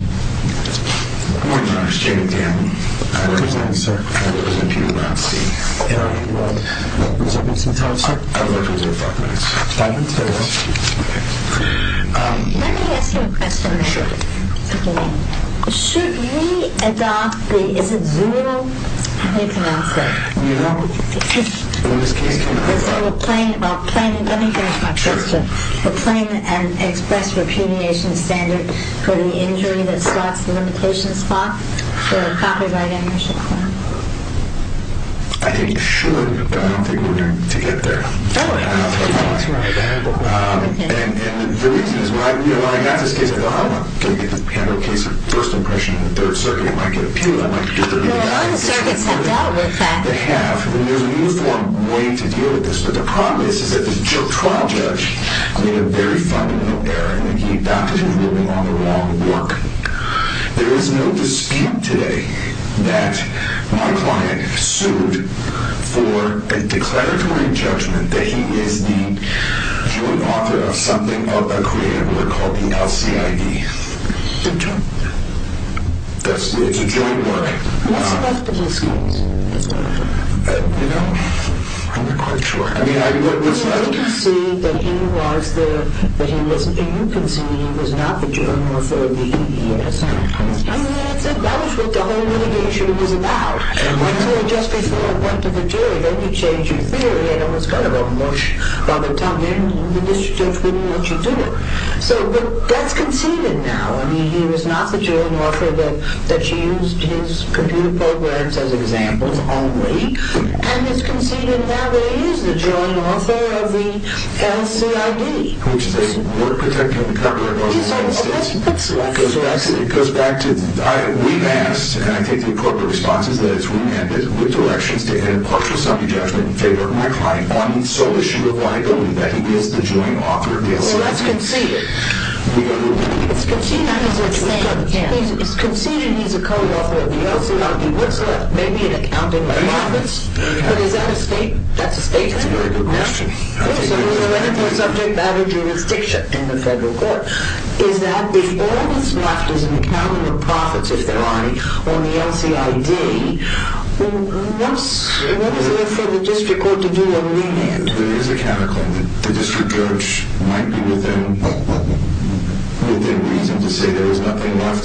Let me ask you a question. Should we adopt the, is it zero? How do you pronounce that? You know, in this case... Let me finish my question. I think you should, but I don't think we're going to get there. And the reason is, when I got this case, I thought, I want to get the Handler case first impression in the Third Circuit. It might get appealed, I might get... Well, the circuits have dealt with that. They have, and there's a uniform way to deal with this, but the problem is that the trial judge made a very fundamental error. He adopted the ruling on the wrong work. There is no dispute today that my client sued for a declaratory judgment that he is the joint author of something of a creative work called the LCID. The Joint? It's a joint work. What's left of his case? You know, I'm not quite sure. I mean, what was left... Well, you can see that he was the, that he was, you can see that he was not the joint author of the handlers. I mean, that was what the whole litigation was about. Until just before it went to the jury. Then you change your theory, and it was kind of a mush. By the time the district judge wouldn't let you do that. So, but that's conceded now. I mean, he was not the joint author that used his computer programs as examples only. And it's conceded now that he is the joint author of the LCID. Which is a work protecting the copyright of the United States. It goes back to, we've asked, and I take the appropriate responses, that it's remanded with directions to end partial summary judgment in favor of my client on the sole issue of liability, that he is the joint author of the LCID. Well, that's conceded. It's conceded he's a co-author of the LCID. What's left? Maybe an accounting of profits. But is that a statement? That's a statement. That's a very good question. I'll take it as a statement. Also, we know anything subject matter jurisdiction in the federal court. Is that if all that's left is an accounting of profits, if there are any, on the LCID, what's left for the district court to do on remand? There is a counter claim. The district judge might be within reason to say there is nothing left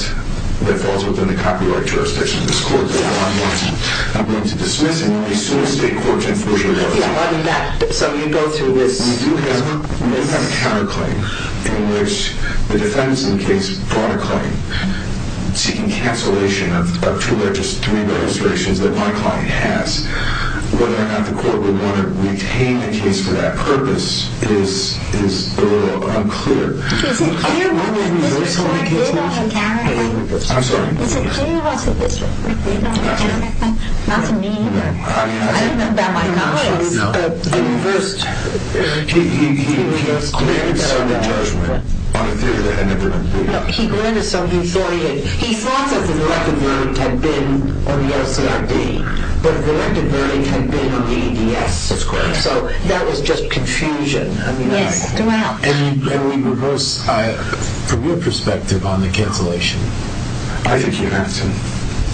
that falls within the copyright jurisdiction of this court. I'm going to dismiss it as soon as state court information arrives. So you go through this. We do have a counterclaim in which the defense in the case brought a claim seeking cancellation of two or just three registrations that my client has. Whether or not the court would want to retain the case for that purpose is a little unclear. Is it clear what the district court did on the counterclaim? I'm sorry? Is it clear what the district court did on the counterclaim? Not to me, but I don't know about my colleagues. He granted some judgment on a theory that had never been briefed. No, he granted some authority. He thought that the directed verdict had been on the LCID, but the directed verdict had been on the ADS. That's correct. So that was just confusion. Yes, do I help? And from your perspective on the cancellation? I think you have to.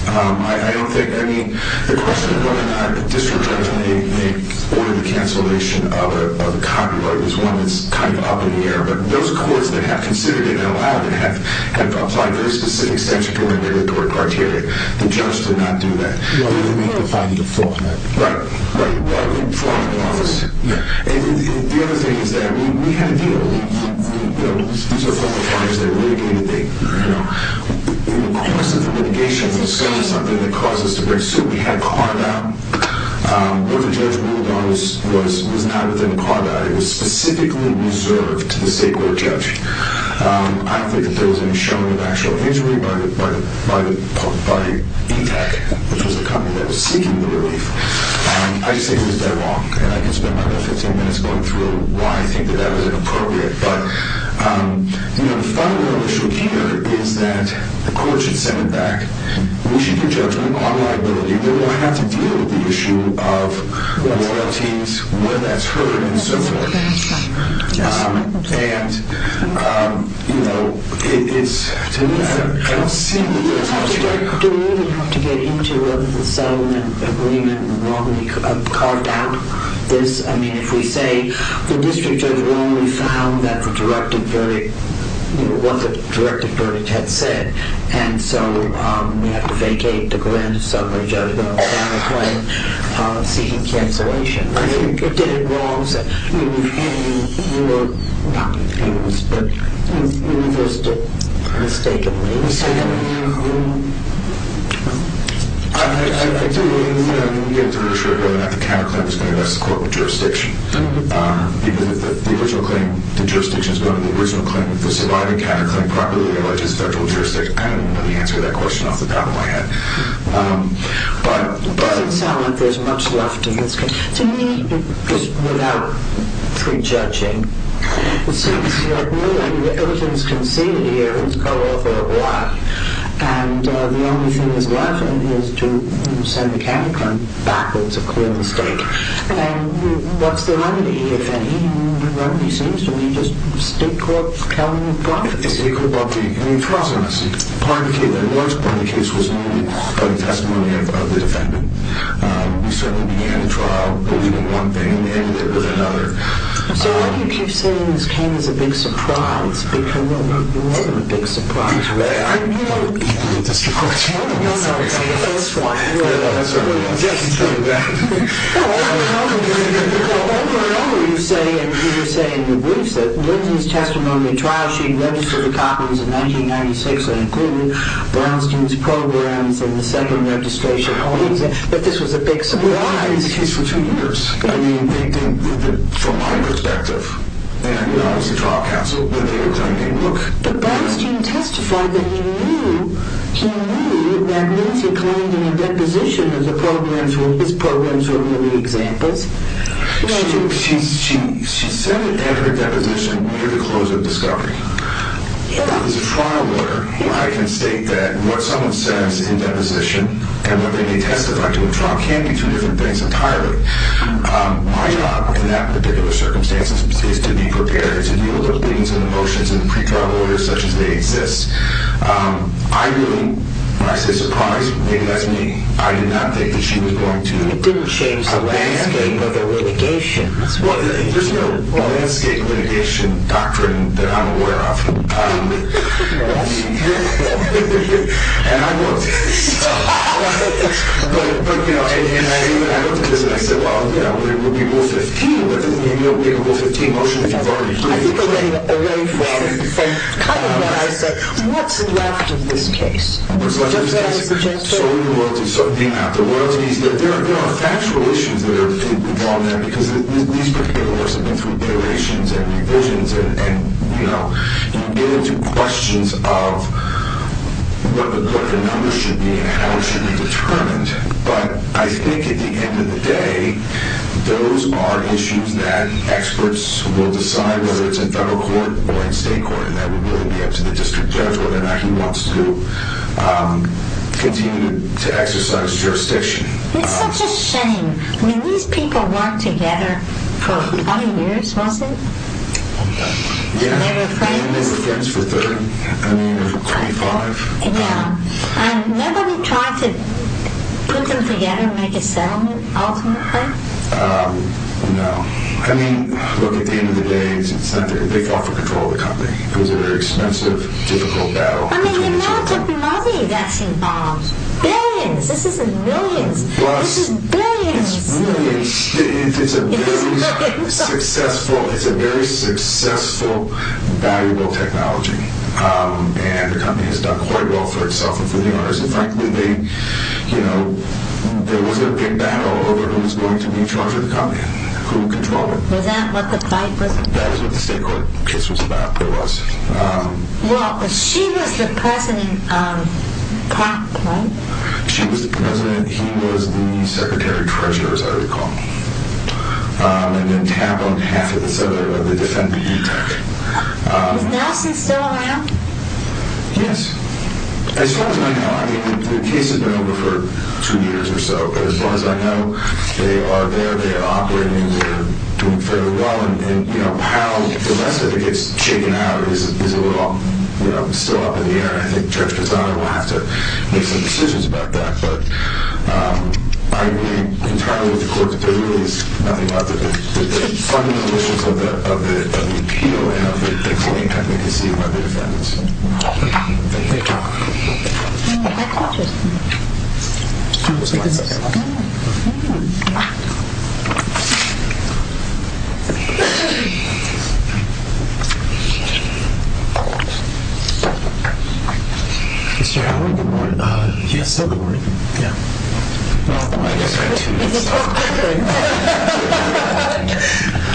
I don't think. I mean, the question of whether or not the district judge may order the cancellation of a copyright is one that's kind of up in the air. But those courts that have considered it and allowed it have applied very specific statutory and regulatory criteria. The judge did not do that. No, they didn't make the finding of fraud. Right, right. Fraud in the office. Yeah. And the other thing is that we had a deal. You know, these are federal clients. They litigated. You know, in the course of the litigation, there was certainly something that caused us to break suit. We had carbide. What the judge ruled on was not within carbide. It was specifically reserved to the state court judge. I don't think that there was any showing of actual injury by E-Tech, which was the company that was seeking the relief. I'd say it was dead wrong, and I can spend my next 15 minutes going through why I think that that was inappropriate. But, you know, the fundamental issue here is that the court should send it back. We should give judgment on liability. We're going to have to deal with the issue of royalties, where that's heard, and so forth. And, you know, it is to me a kind of silly question. Do we really have to get into a settlement agreement and wrongly carve down this? I mean, if we say the district judge only found that the directed verdict, you know, what the directed verdict had said, and so we have to vacate the grant of summary judgment on the claim seeking cancellation. I think it did it wrong. I mean, you were not confused, but you listed it mistakenly. I do, and we'll get through it shortly, whether or not the counterclaim is going to rest the court with jurisdiction. Because if the original claim, the jurisdiction is going to the original claim, if the surviving counterclaim properly alleges federal jurisdiction, I don't even know the answer to that question off the top of my head. It doesn't sound like there's much left in this case. To me, just without prejudging, it seems to me that everything is conceded here. It's color for a black. And the only thing that's left in here is to send the counterclaim back. It's a clear mistake. And what's the remedy, if any? The remedy seems to me just state court telling the problem. State court telling the problem, I see. The worst part of the case was the testimony of the defendant. We certainly began the trial believing one thing and ending it with another. So why do you keep saying this came as a big surprise? Because, well, you were a big surprise, right? I didn't want people to see my channel. No, no, no, no. That's fine. That's all right. You just came back. Well, over and over, you say, and you say in your briefs, that Lindsay's testimony, in the trial she registered the copies in 1996 and included Brownstein's programs in the second registration. But this was a big surprise. Well, I had this case for two years. I mean, they didn't, from my perspective, and not as a trial counsel, but they were claiming, look. But Brownstein testified that he knew that Lindsay claimed in a deposition that his programs were really examples. She said it in her deposition near the close of discovery. If it was a trial order, I can state that what someone says in deposition and what they may testify to in trial can be two different things entirely. My job in that particular circumstance is to be prepared to deal with things and emotions in pre-trial orders such as they exist. I really, when I say surprise, maybe that's me. I did not think that she was going to. It didn't change the landscape of the litigation. Well, there's no landscape litigation doctrine that I'm aware of. And I looked. But, you know, and I looked at this and I said, well, you know, it would be Rule 15. But there's no big Rule 15 motion that you've already created. I think they're getting away from kind of what I said. What's left of this case? So, you know, there are factual issues that are involved there because these particular lawyers have been through iterations and revisions. And, you know, you get into questions of what the numbers should be and how it should be determined. But I think at the end of the day, those are issues that experts will decide whether it's in federal court or in state court. And that would really be up to the district judge whether or not he wants to. Continue to exercise jurisdiction. It's such a shame. I mean, these people weren't together for 20 years, was it? Yeah. And they were friends for 30. I mean, 25. Yeah. And nobody tried to put them together and make a settlement ultimately? No. I mean, look, at the end of the day, it's not that they fell for control of the company. It was a very expensive, difficult battle. I mean, the amount of money that's involved. Billions. This isn't millions. This is billions. It's a very successful, valuable technology. And the company has done quite well for itself and for the owners. And frankly, they, you know, there was a big battle over who was going to be in charge of the company and who would control it. Was that what the fight was? That is what the state court case was about. It was. Well, but she was the president, right? She was the president. He was the secretary treasurer, as I recall. And then Tapp on behalf of the defense tech. Is Nelson still around? Yes. As far as I know. I mean, the case has been over for two years or so. But as far as I know, they are there. They are operating. They are doing fairly well. And, you know, how the rest of it gets shaken out is a little, you know, still up in the air. And I think Judge Cassano will have to make some decisions about that. But I agree entirely with the court that there really is nothing out there. The fundamental issues of the appeal and of the claim have been conceived by the defendants. Thank you. Oh, that's interesting. Mr. Howard, good morning. Yes, sir. Good morning. Yeah.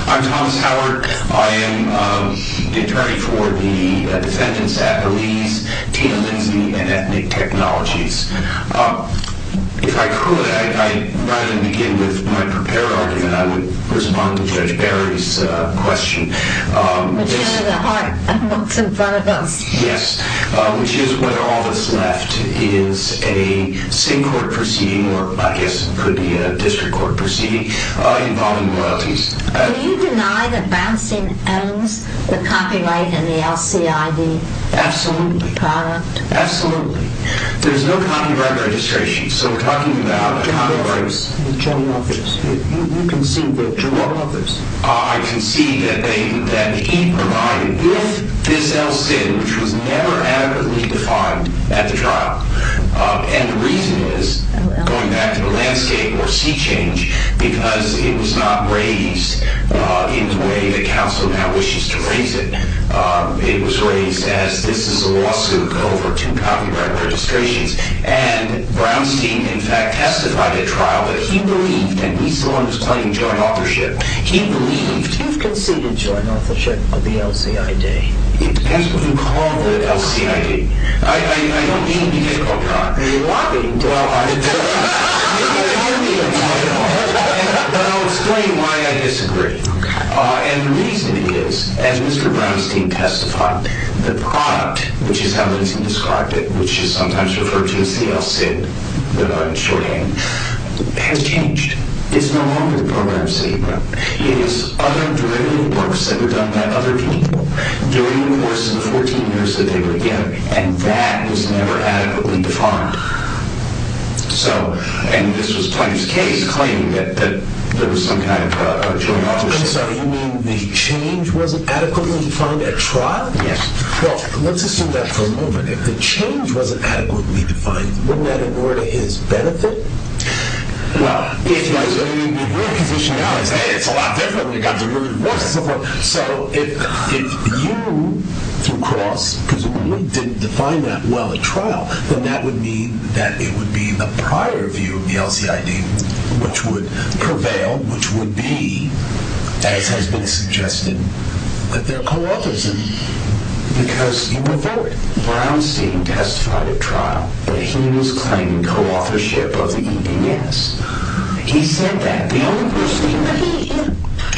I'm Thomas Howard. I am the attorney for the defendants at Belize, Tina Lindsay, and Ethnic Technologies. If I could, I'd rather begin with my prepared argument. I would respond to Judge Barry's question. Yes, which is whether all that's left is a state court proceeding, or I guess it could be a district court proceeding, involving royalties. Do you deny that Brownson owns the copyright and the LCID product? Absolutely. Absolutely. There's no copyright registration. So we're talking about a copyright. You can see that Jerome offers. I can see that he provided if this else did, which was never adequately defined at the trial. And the reason is, going back to the landscape or sea change, because it was not raised in the way that counsel now wishes to raise it. It was raised as this is a lawsuit over two copyright registrations. And Brownstein, in fact, testified at trial that he believed, and he's the one who's claiming joint authorship, he believed... You've conceded joint authorship of the LCID. It depends what you call the LCID. I don't mean to be... Are you lobbying? Well, I... But I'll explain why I disagree. Okay. And the reason is, as Mr. Brownstein testified, the product, which is how he described it, which is sometimes referred to as the LCID, the short end, has changed. It's no longer the program C. It is other derivative works that were done by other people during the course of the 14 years that they were together. And that was never adequately defined. So, and this was Plymouth's case, claiming that there was some kind of joint authorship. I'm sorry. You mean the change wasn't adequately defined at trial? Yes. Well, let's assume that for a moment. If the change wasn't adequately defined, wouldn't that ignore his benefit? Well, if he was in the real position now, he'd say, hey, it's a lot different. We've got derivative works and stuff like that. So if you, through Cross, presumably, didn't define that well at trial, then that would mean that it would be the prior view of the LCID, which would prevail, which would be, as has been suggested, that there are co-authors in it. Because you would vote. Brownstein testified at trial that he was claiming co-authorship of the EDS. He said that.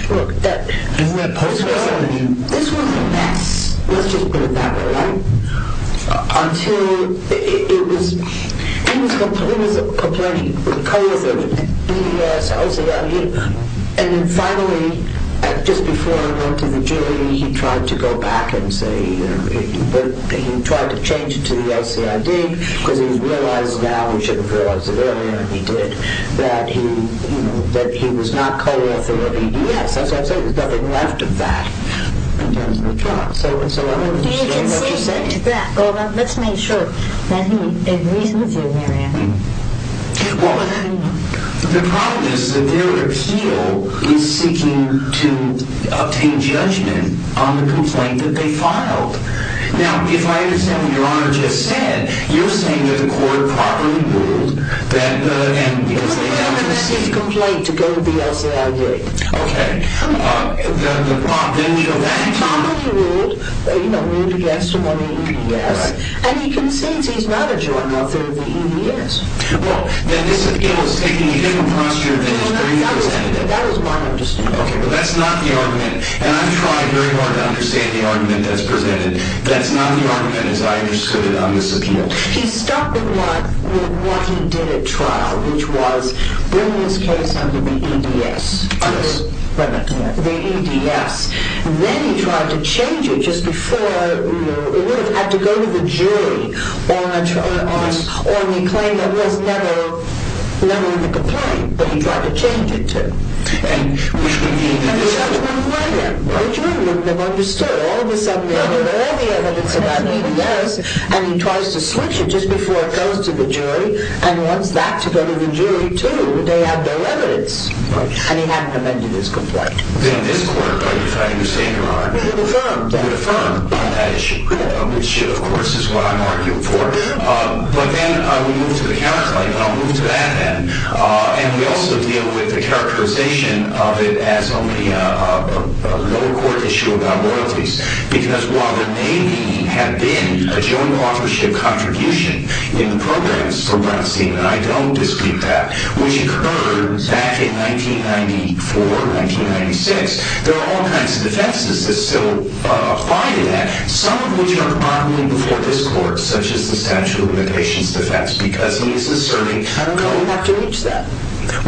Look, this was a mess. Let's just put it that way, right? Until it was, he was complaining of co-authorship of the EDS, LCID. And then finally, just before he went to the jury, he tried to go back and say, he tried to change it to the LCID. Because he's realized now, he should have realized it earlier than he did, that he was not co-author of EDS. As I've said, there's nothing left of that in terms of the trial. So I don't understand what you're saying. Well, let's make sure that he agrees with you, Mary Ann. Well, the problem is the derivative still is seeking to obtain judgment on the complaint that they filed. Now, if I understand what your honor just said, you're saying that the court properly ruled that the... It was a fairly unreceived complaint to go to the LCID. Okay. The prop, didn't you have that in mind? Properly ruled, you know, ruled against him on the EDS. Right. And he concedes he's not a juror, not that he is. Well, then this appeal is taking a different posture than it's being presented. That was my understanding. Okay. That's not the argument. And I'm trying very hard to understand the argument that's presented. That's not the argument as I understood it on this appeal. He stuck with what he did at trial, which was bring this case under the EDS. Yes. The EDS. Then he tried to change it just before it would have had to go to the jury on the claim that was never in the complaint, but he tried to change it to. And the judge wouldn't let him. The jury wouldn't have understood. All of a sudden, they have all the evidence about the EDS, and he tries to switch it just before it goes to the jury and wants that to go to the jury too. They have their evidence. Right. And he hadn't amended his complaint. Then this court, by defining the state of the law. It would affirm. It would affirm on that issue, which of course is what I'm arguing for. But then we move to the counterclaim, and I'll move to that then. And we also deal with the characterization of it as only a lower court issue about royalties. Because while there may have been a joint authorship contribution in the programs for Brownstein, and I don't dispute that, which occurred back in 1994, 1996, there are all kinds of defenses that still apply to that. Some of which are moderately before this court, such as the statute of limitations defense, because he is asserting. I don't know if we have to reach that.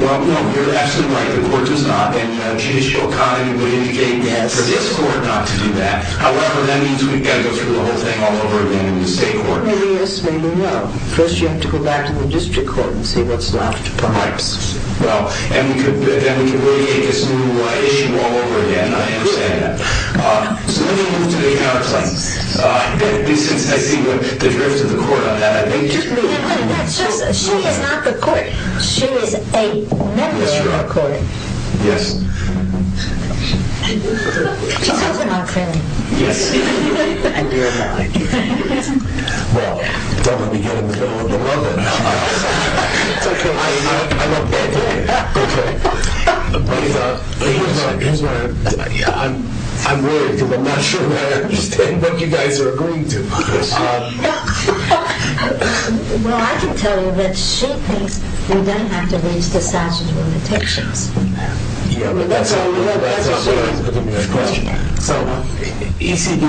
Well, no, you're absolutely right. The court does not. And the judicial economy would indicate for this court not to do that. However, that means we've got to go through the whole thing all over again in the state court. Well, maybe yes, maybe no. First, you have to go back to the district court and see what's left, perhaps. Well, and we could really get this new issue all over again. I understand that. So let me move to the HR claim. And since I see the drift of the court on that, I may just move on. Wait a minute. She is not the court. She is a member of court. Yes. She's also my friend. Yes. And you're my friend. Well, don't let me get in the middle of the rubbin'. It's OK. I'm a bad player. OK. I'm worried because I'm not sure I understand what you guys are agreeing to. Well, I can tell you that she thinks we don't have to reach the statute of limitations on that. Yeah, but that's not what I was looking at in question. So ECD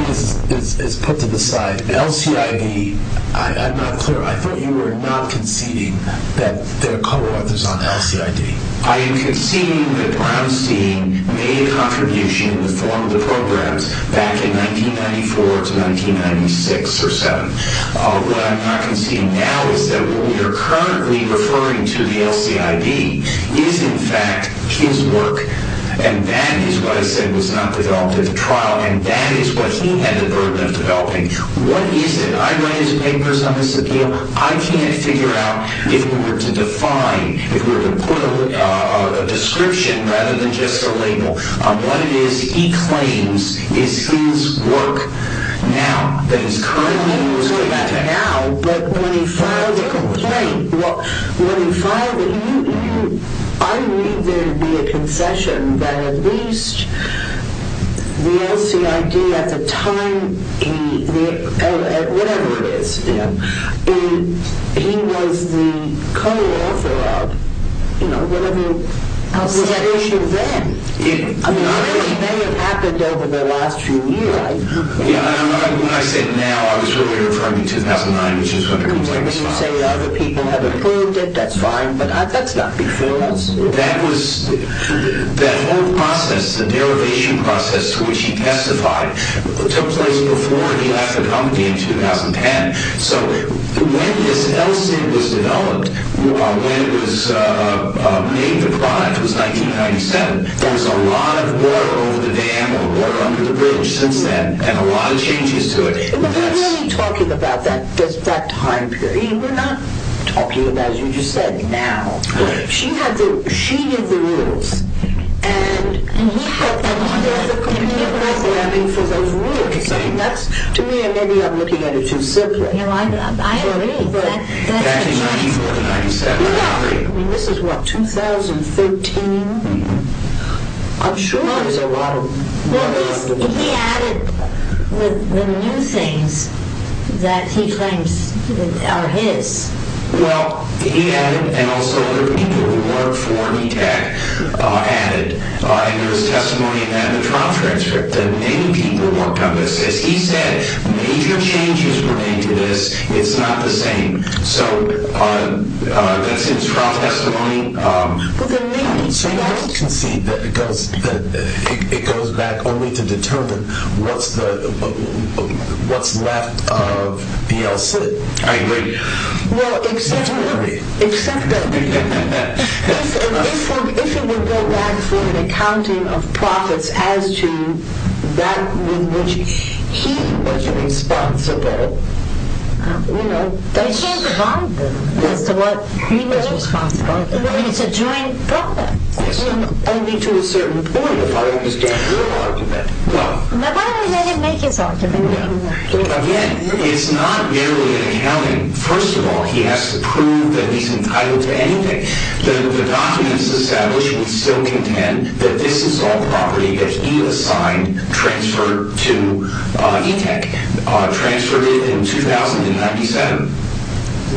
is put to the side. LCID, I'm not clear. I thought you were not conceding that there are co-authors on LCID. I am conceding that Brownstein made a contribution in the form of the programs back in 1994 to 1996 or so. What I'm not conceding now is that what we are currently referring to the LCID is, in fact, his work. And that is what I said was not developed at the trial. And that is what he had the burden of developing. What is it? I read his papers on this appeal. I can't figure out if we were to define, if we were to put a description rather than just a label, on what it is he claims is his work now, that is currently in use today. But when he filed the complaint, when he filed it, I read there to be a concession that at least the LCID at the time, whatever it is, he was the co-author of whatever was at issue then. It may have happened over the last few years. When I say now, I was referring to 2009, which is when the complaint was filed. When you say other people have approved it, that's fine, but that's not before us. That whole process, the derivation process to which he testified, took place before he left the company in 2010. So when this LCID was developed, when it was made the product, it was 1997. There was a lot of work over the dam, a lot of work under the bridge since then, and a lot of changes to it. We're really talking about that time period. We're not talking about, as you just said, now. She had the, she knew the rules. And we felt that neither of the companies were happy for those rules. So that's, to me, maybe I'm looking at it too simply. No, I agree. I mean, this is what, 2013? I'm sure there's a lot of work under the bridge. Well, he added the new things that he claims are his. Well, he added, and also other people who worked for ETAC added, and there was testimony in that in the trial transcript that many people worked on this. As he said, major changes were made to this. It's not the same. So that's his trial testimony. So you also concede that it goes back only to determine what's left of the LCID. I agree. Well, except that if it would go back for an accounting of profits as to that with which he was responsible, you know. He can't provide them as to what he was responsible for. It's a joint profit. Only to a certain point, if I understand your argument. Well. But why would he make his argument? Again, it's not merely accounting. First of all, he has to prove that he's entitled to anything. The documents established would still contend that this is all property that he assigned transferred to ETAC, transferred it in 2097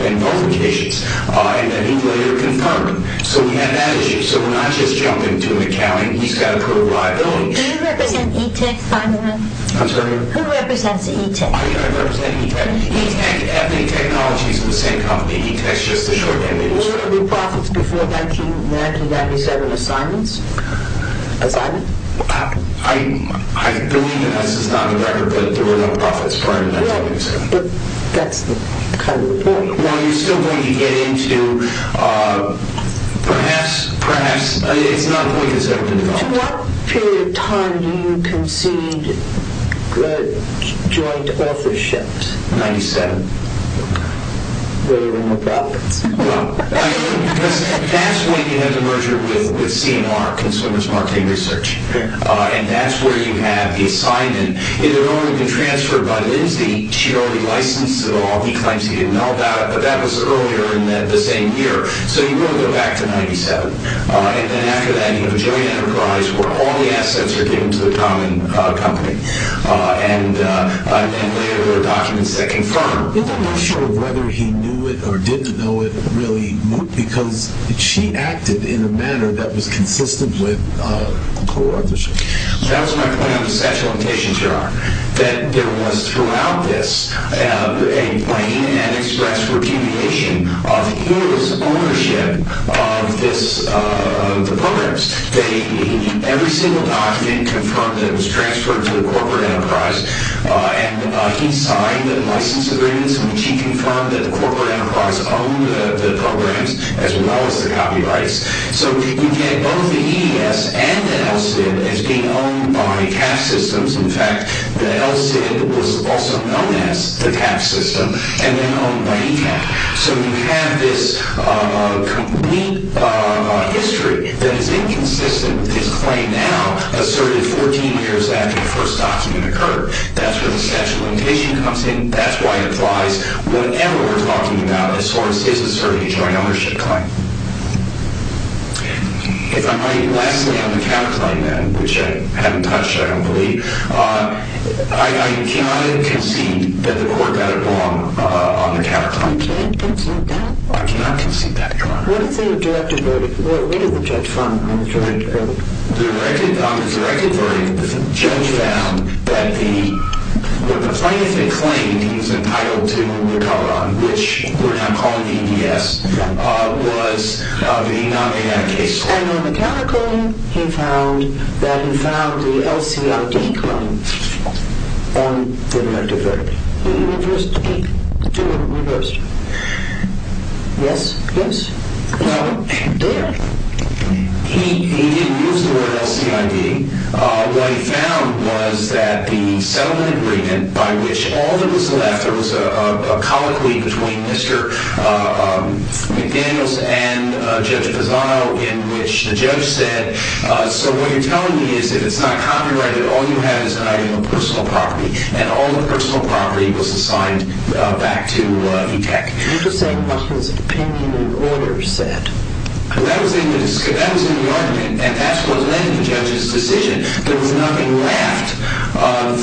in both locations, and that he later confirmed. So we have that issue. So we're not just jumping to an accounting. He's got to prove liability. Do you represent ETAC, finally? I'm sorry? Who represents ETAC? I represent ETAC. ETAC, Ethnic Technologies is the same company. ETAC is just a short name. Were there any profits before 1997 assignments? Assignment? I believe this is not a record, but there were no profits prior to 1997. But that's the kind of report. Well, you're still going to get into perhaps, perhaps. It's not a point that's ever been developed. To what period of time do you concede joint authorship? 1997. Were there any profits? That's when you have the merger with CMR, Consumers Marketing Research, and that's where you have the assignment. It had already been transferred by Lindsay. She already licensed it all. He claims he didn't know about it, but that was earlier in the same year. So you go back to 1997, and then after that you have a joint enterprise where all the assets are given to the common company, and then later there are documents that confirm. I'm not sure whether he knew it or didn't know it really, because she acted in a manner that was consistent with the co-authorship. That was my point on the sexual limitations here, that there was throughout this a plain and express repudiation of his ownership of the programs. Every single document confirmed that it was transferred to the corporate enterprise, and he signed the license agreements in which he confirmed that the corporate enterprise owned the programs as well as the copyrights. So you get both the EES and the ELSID as being owned by Cap Systems. In fact, the ELSID was also known as the Cap System and then owned by ECAP. So you have this complete history that is inconsistent with his claim now, asserted 14 years after the first document occurred. That's where the sexual limitation comes in. That's why it applies whenever we're talking about a source that's asserting a joint ownership claim. If I might lastly on the counterclaim then, which I haven't touched, I don't believe. I cannot concede that the court better belong on the counterclaim. Can you concede that? I cannot concede that, Your Honor. What is the directed verdict? What did the judge find on the directed verdict? On the directed verdict, the judge found that the plaintiff had claimed he was entitled to recover on, which we're now calling EES, was being not made out of case law. And on the counterclaim, he found that he found the ELSID claim on the directed verdict. He reversed the case. The two were reversed. Yes? Yes? Now, he didn't use the word ELSID. What he found was that the settlement agreement by which all that was left, there was a colloquy between Mr. McDaniels and Judge Pisano in which the judge said, so what you're telling me is if it's not copyrighted, all you have is an item of personal property. And all the personal property was assigned back to ETEC. You're just saying what his opinion and order said. That was in the argument, and that's what led the judge's decision. There was nothing left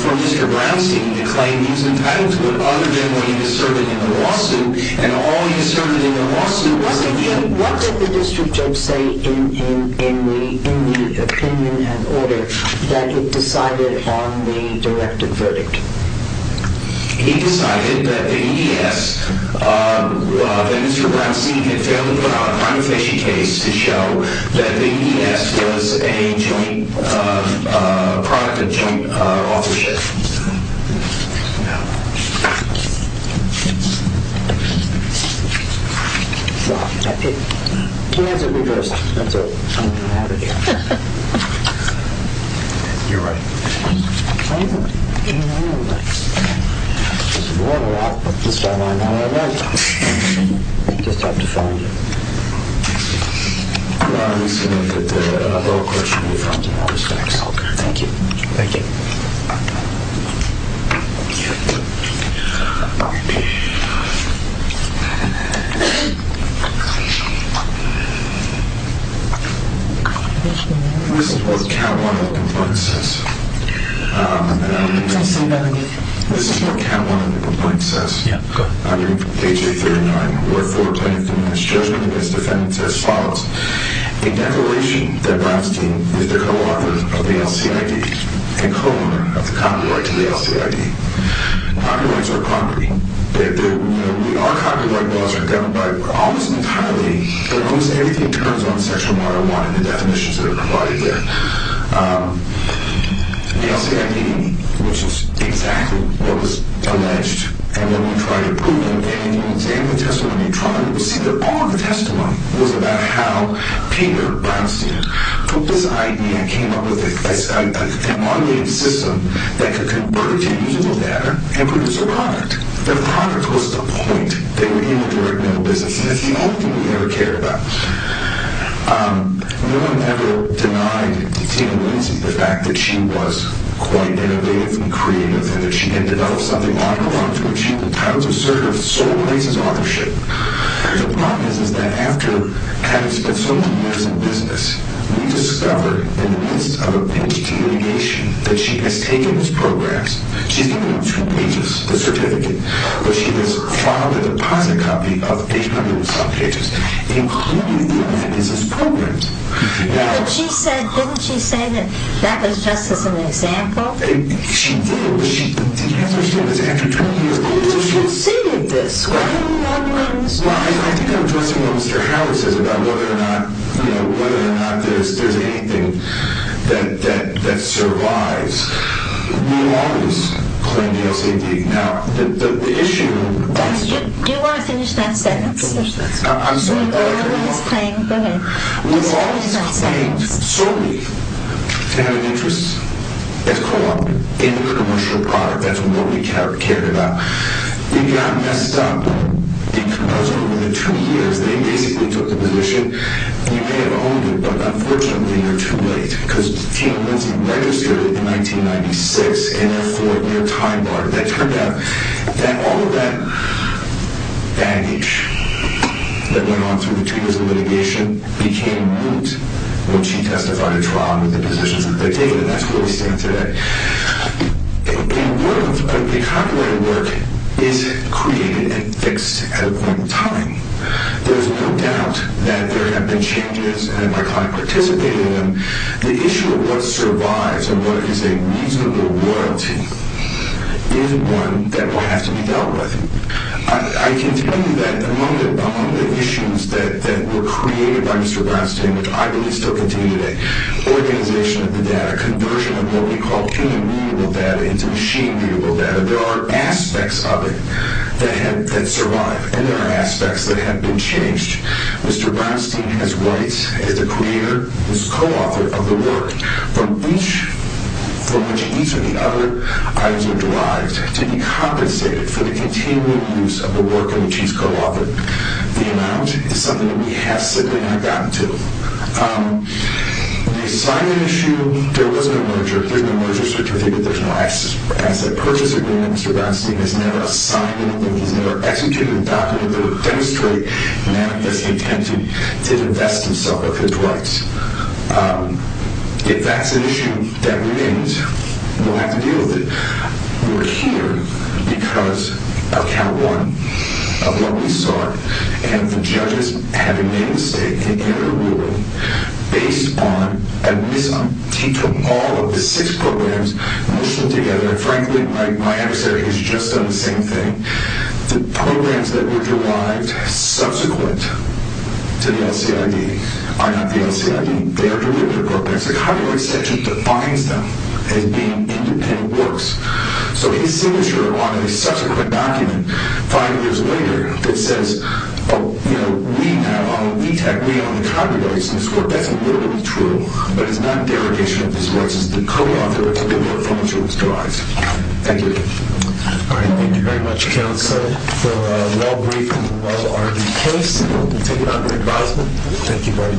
for Mr. Brownstein to claim he was entitled to other than what he asserted in the lawsuit. And all he asserted in the lawsuit was a fee. What did the district judge say in the opinion and order that it decided on the directed verdict? He decided that the EDS, that Mr. Brownstein had failed to put out a prima facie case to show that the EDS was a joint product, a joint authorship. I'm going to go ahead and close it. Can I have that reversed? You're right. It's worn a lot, but this guy won't have it reversed. Just have to find it. This is going to get the whole question reformed in all respects. Okay, thank you. Thank you. This is what count one of the complaints says. This is what count one of the complaints says. Yeah, go ahead. I'm going to read page 39. Wherefore, plaintiff denies judgment against defendants as follows. In declaration that Brownstein is the co-author of the LCID and co-owner of the copyright to the LCID. Copyrights are property. Our copyright laws are governed by almost entirely, almost everything turns on sexual model one in the definitions that are provided there. The LCID, which is exactly what was alleged, and when we tried to prove it in the examination testimony trial, we see that all of the testimony was about how Peter Brownstein took this idea and came up with a modulated system that could convert it to usable data and produce a product. The product was the point. They were in the direct mail business, and that's the only thing we ever cared about. No one ever denied Tina Lindsay the fact that she was quite innovative and creative and that she had developed something out of the box, which she entitled to a certificate of sole rights of authorship. The problem is that after having spent so many years in business, we discovered in the midst of a PhD litigation that she has taken those programs, she's given them two pages, the certificate, but she has filed a deposit copy of 800 and some pages, including the open business programs. But she said, didn't she say that that was just as an example? She did, but she didn't answer the question. It was after 20 years of litigation. But you've conceded this. Why are you wondering so much? Well, I think I'm addressing what Mr. Howard says about whether or not there's anything that survives. We've always claimed the SAD. Now, the issue... Do you want to finish that sentence? I'll finish that sentence. I'm sorry. We've always claimed the SAD. We've always claimed solely to have an interest as co-op in the commercial product. That's what nobody cared about. It got messed up because over the two years, they basically took the position. You may have owned it, but unfortunately, you're too late, because T.L. Lindsay registered it in 1996 in a four-year time bar. It turned out that all of that baggage that went on through the two years of litigation became moot when she testified in trial with the positions that they'd taken, and that's where we stand today. In a world where the copyrighted work is created and fixed at a point in time, there's no doubt that there have been changes, and my client participated in them. The issue of what survives and what is a reasonable royalty is one that will have to be dealt with. I can tell you that among the issues that were created by Mr. Bronstein, which I believe still continue today, organization of the data, conversion of what we call human-readable data into machine-readable data, there are aspects of it that survive, and there are aspects that have been changed. Mr. Bronstein has rights as the creator, as the co-author of the work, from which each of the other items are derived to be compensated for the continuing use of the work in which he's co-authored. The amount is something that we have simply not gotten to. The assignment issue, there was no merger. There's no merger certificate. There's no asset purchase agreement. Mr. Bronstein has never assigned anything. He's never executed a document that would demonstrate an act that's intended to divest himself of his rights. If that's an issue that remains, we'll have to deal with it. We're here because of Count 1, of what we saw, and the judges having made a mistake in their ruling based on a misunderstanding. He took all of the six programs and pushed them together. Frankly, my adversary has just done the same thing. The programs that were derived subsequent to the LCID are not the LCID. They are derivative programs. The copyright section defines them as being independent works. So his signature on a subsequent document, five years later, that says, we now, we tag we on the copyrights in this court. That's literally true, but it's not a derogation of his rights as the co-author of the work on which it was derived. Thank you. All right. Thank you very much, counsel, for a well-briefed and well-armed case. We'll take it under advisement. Thank you very much.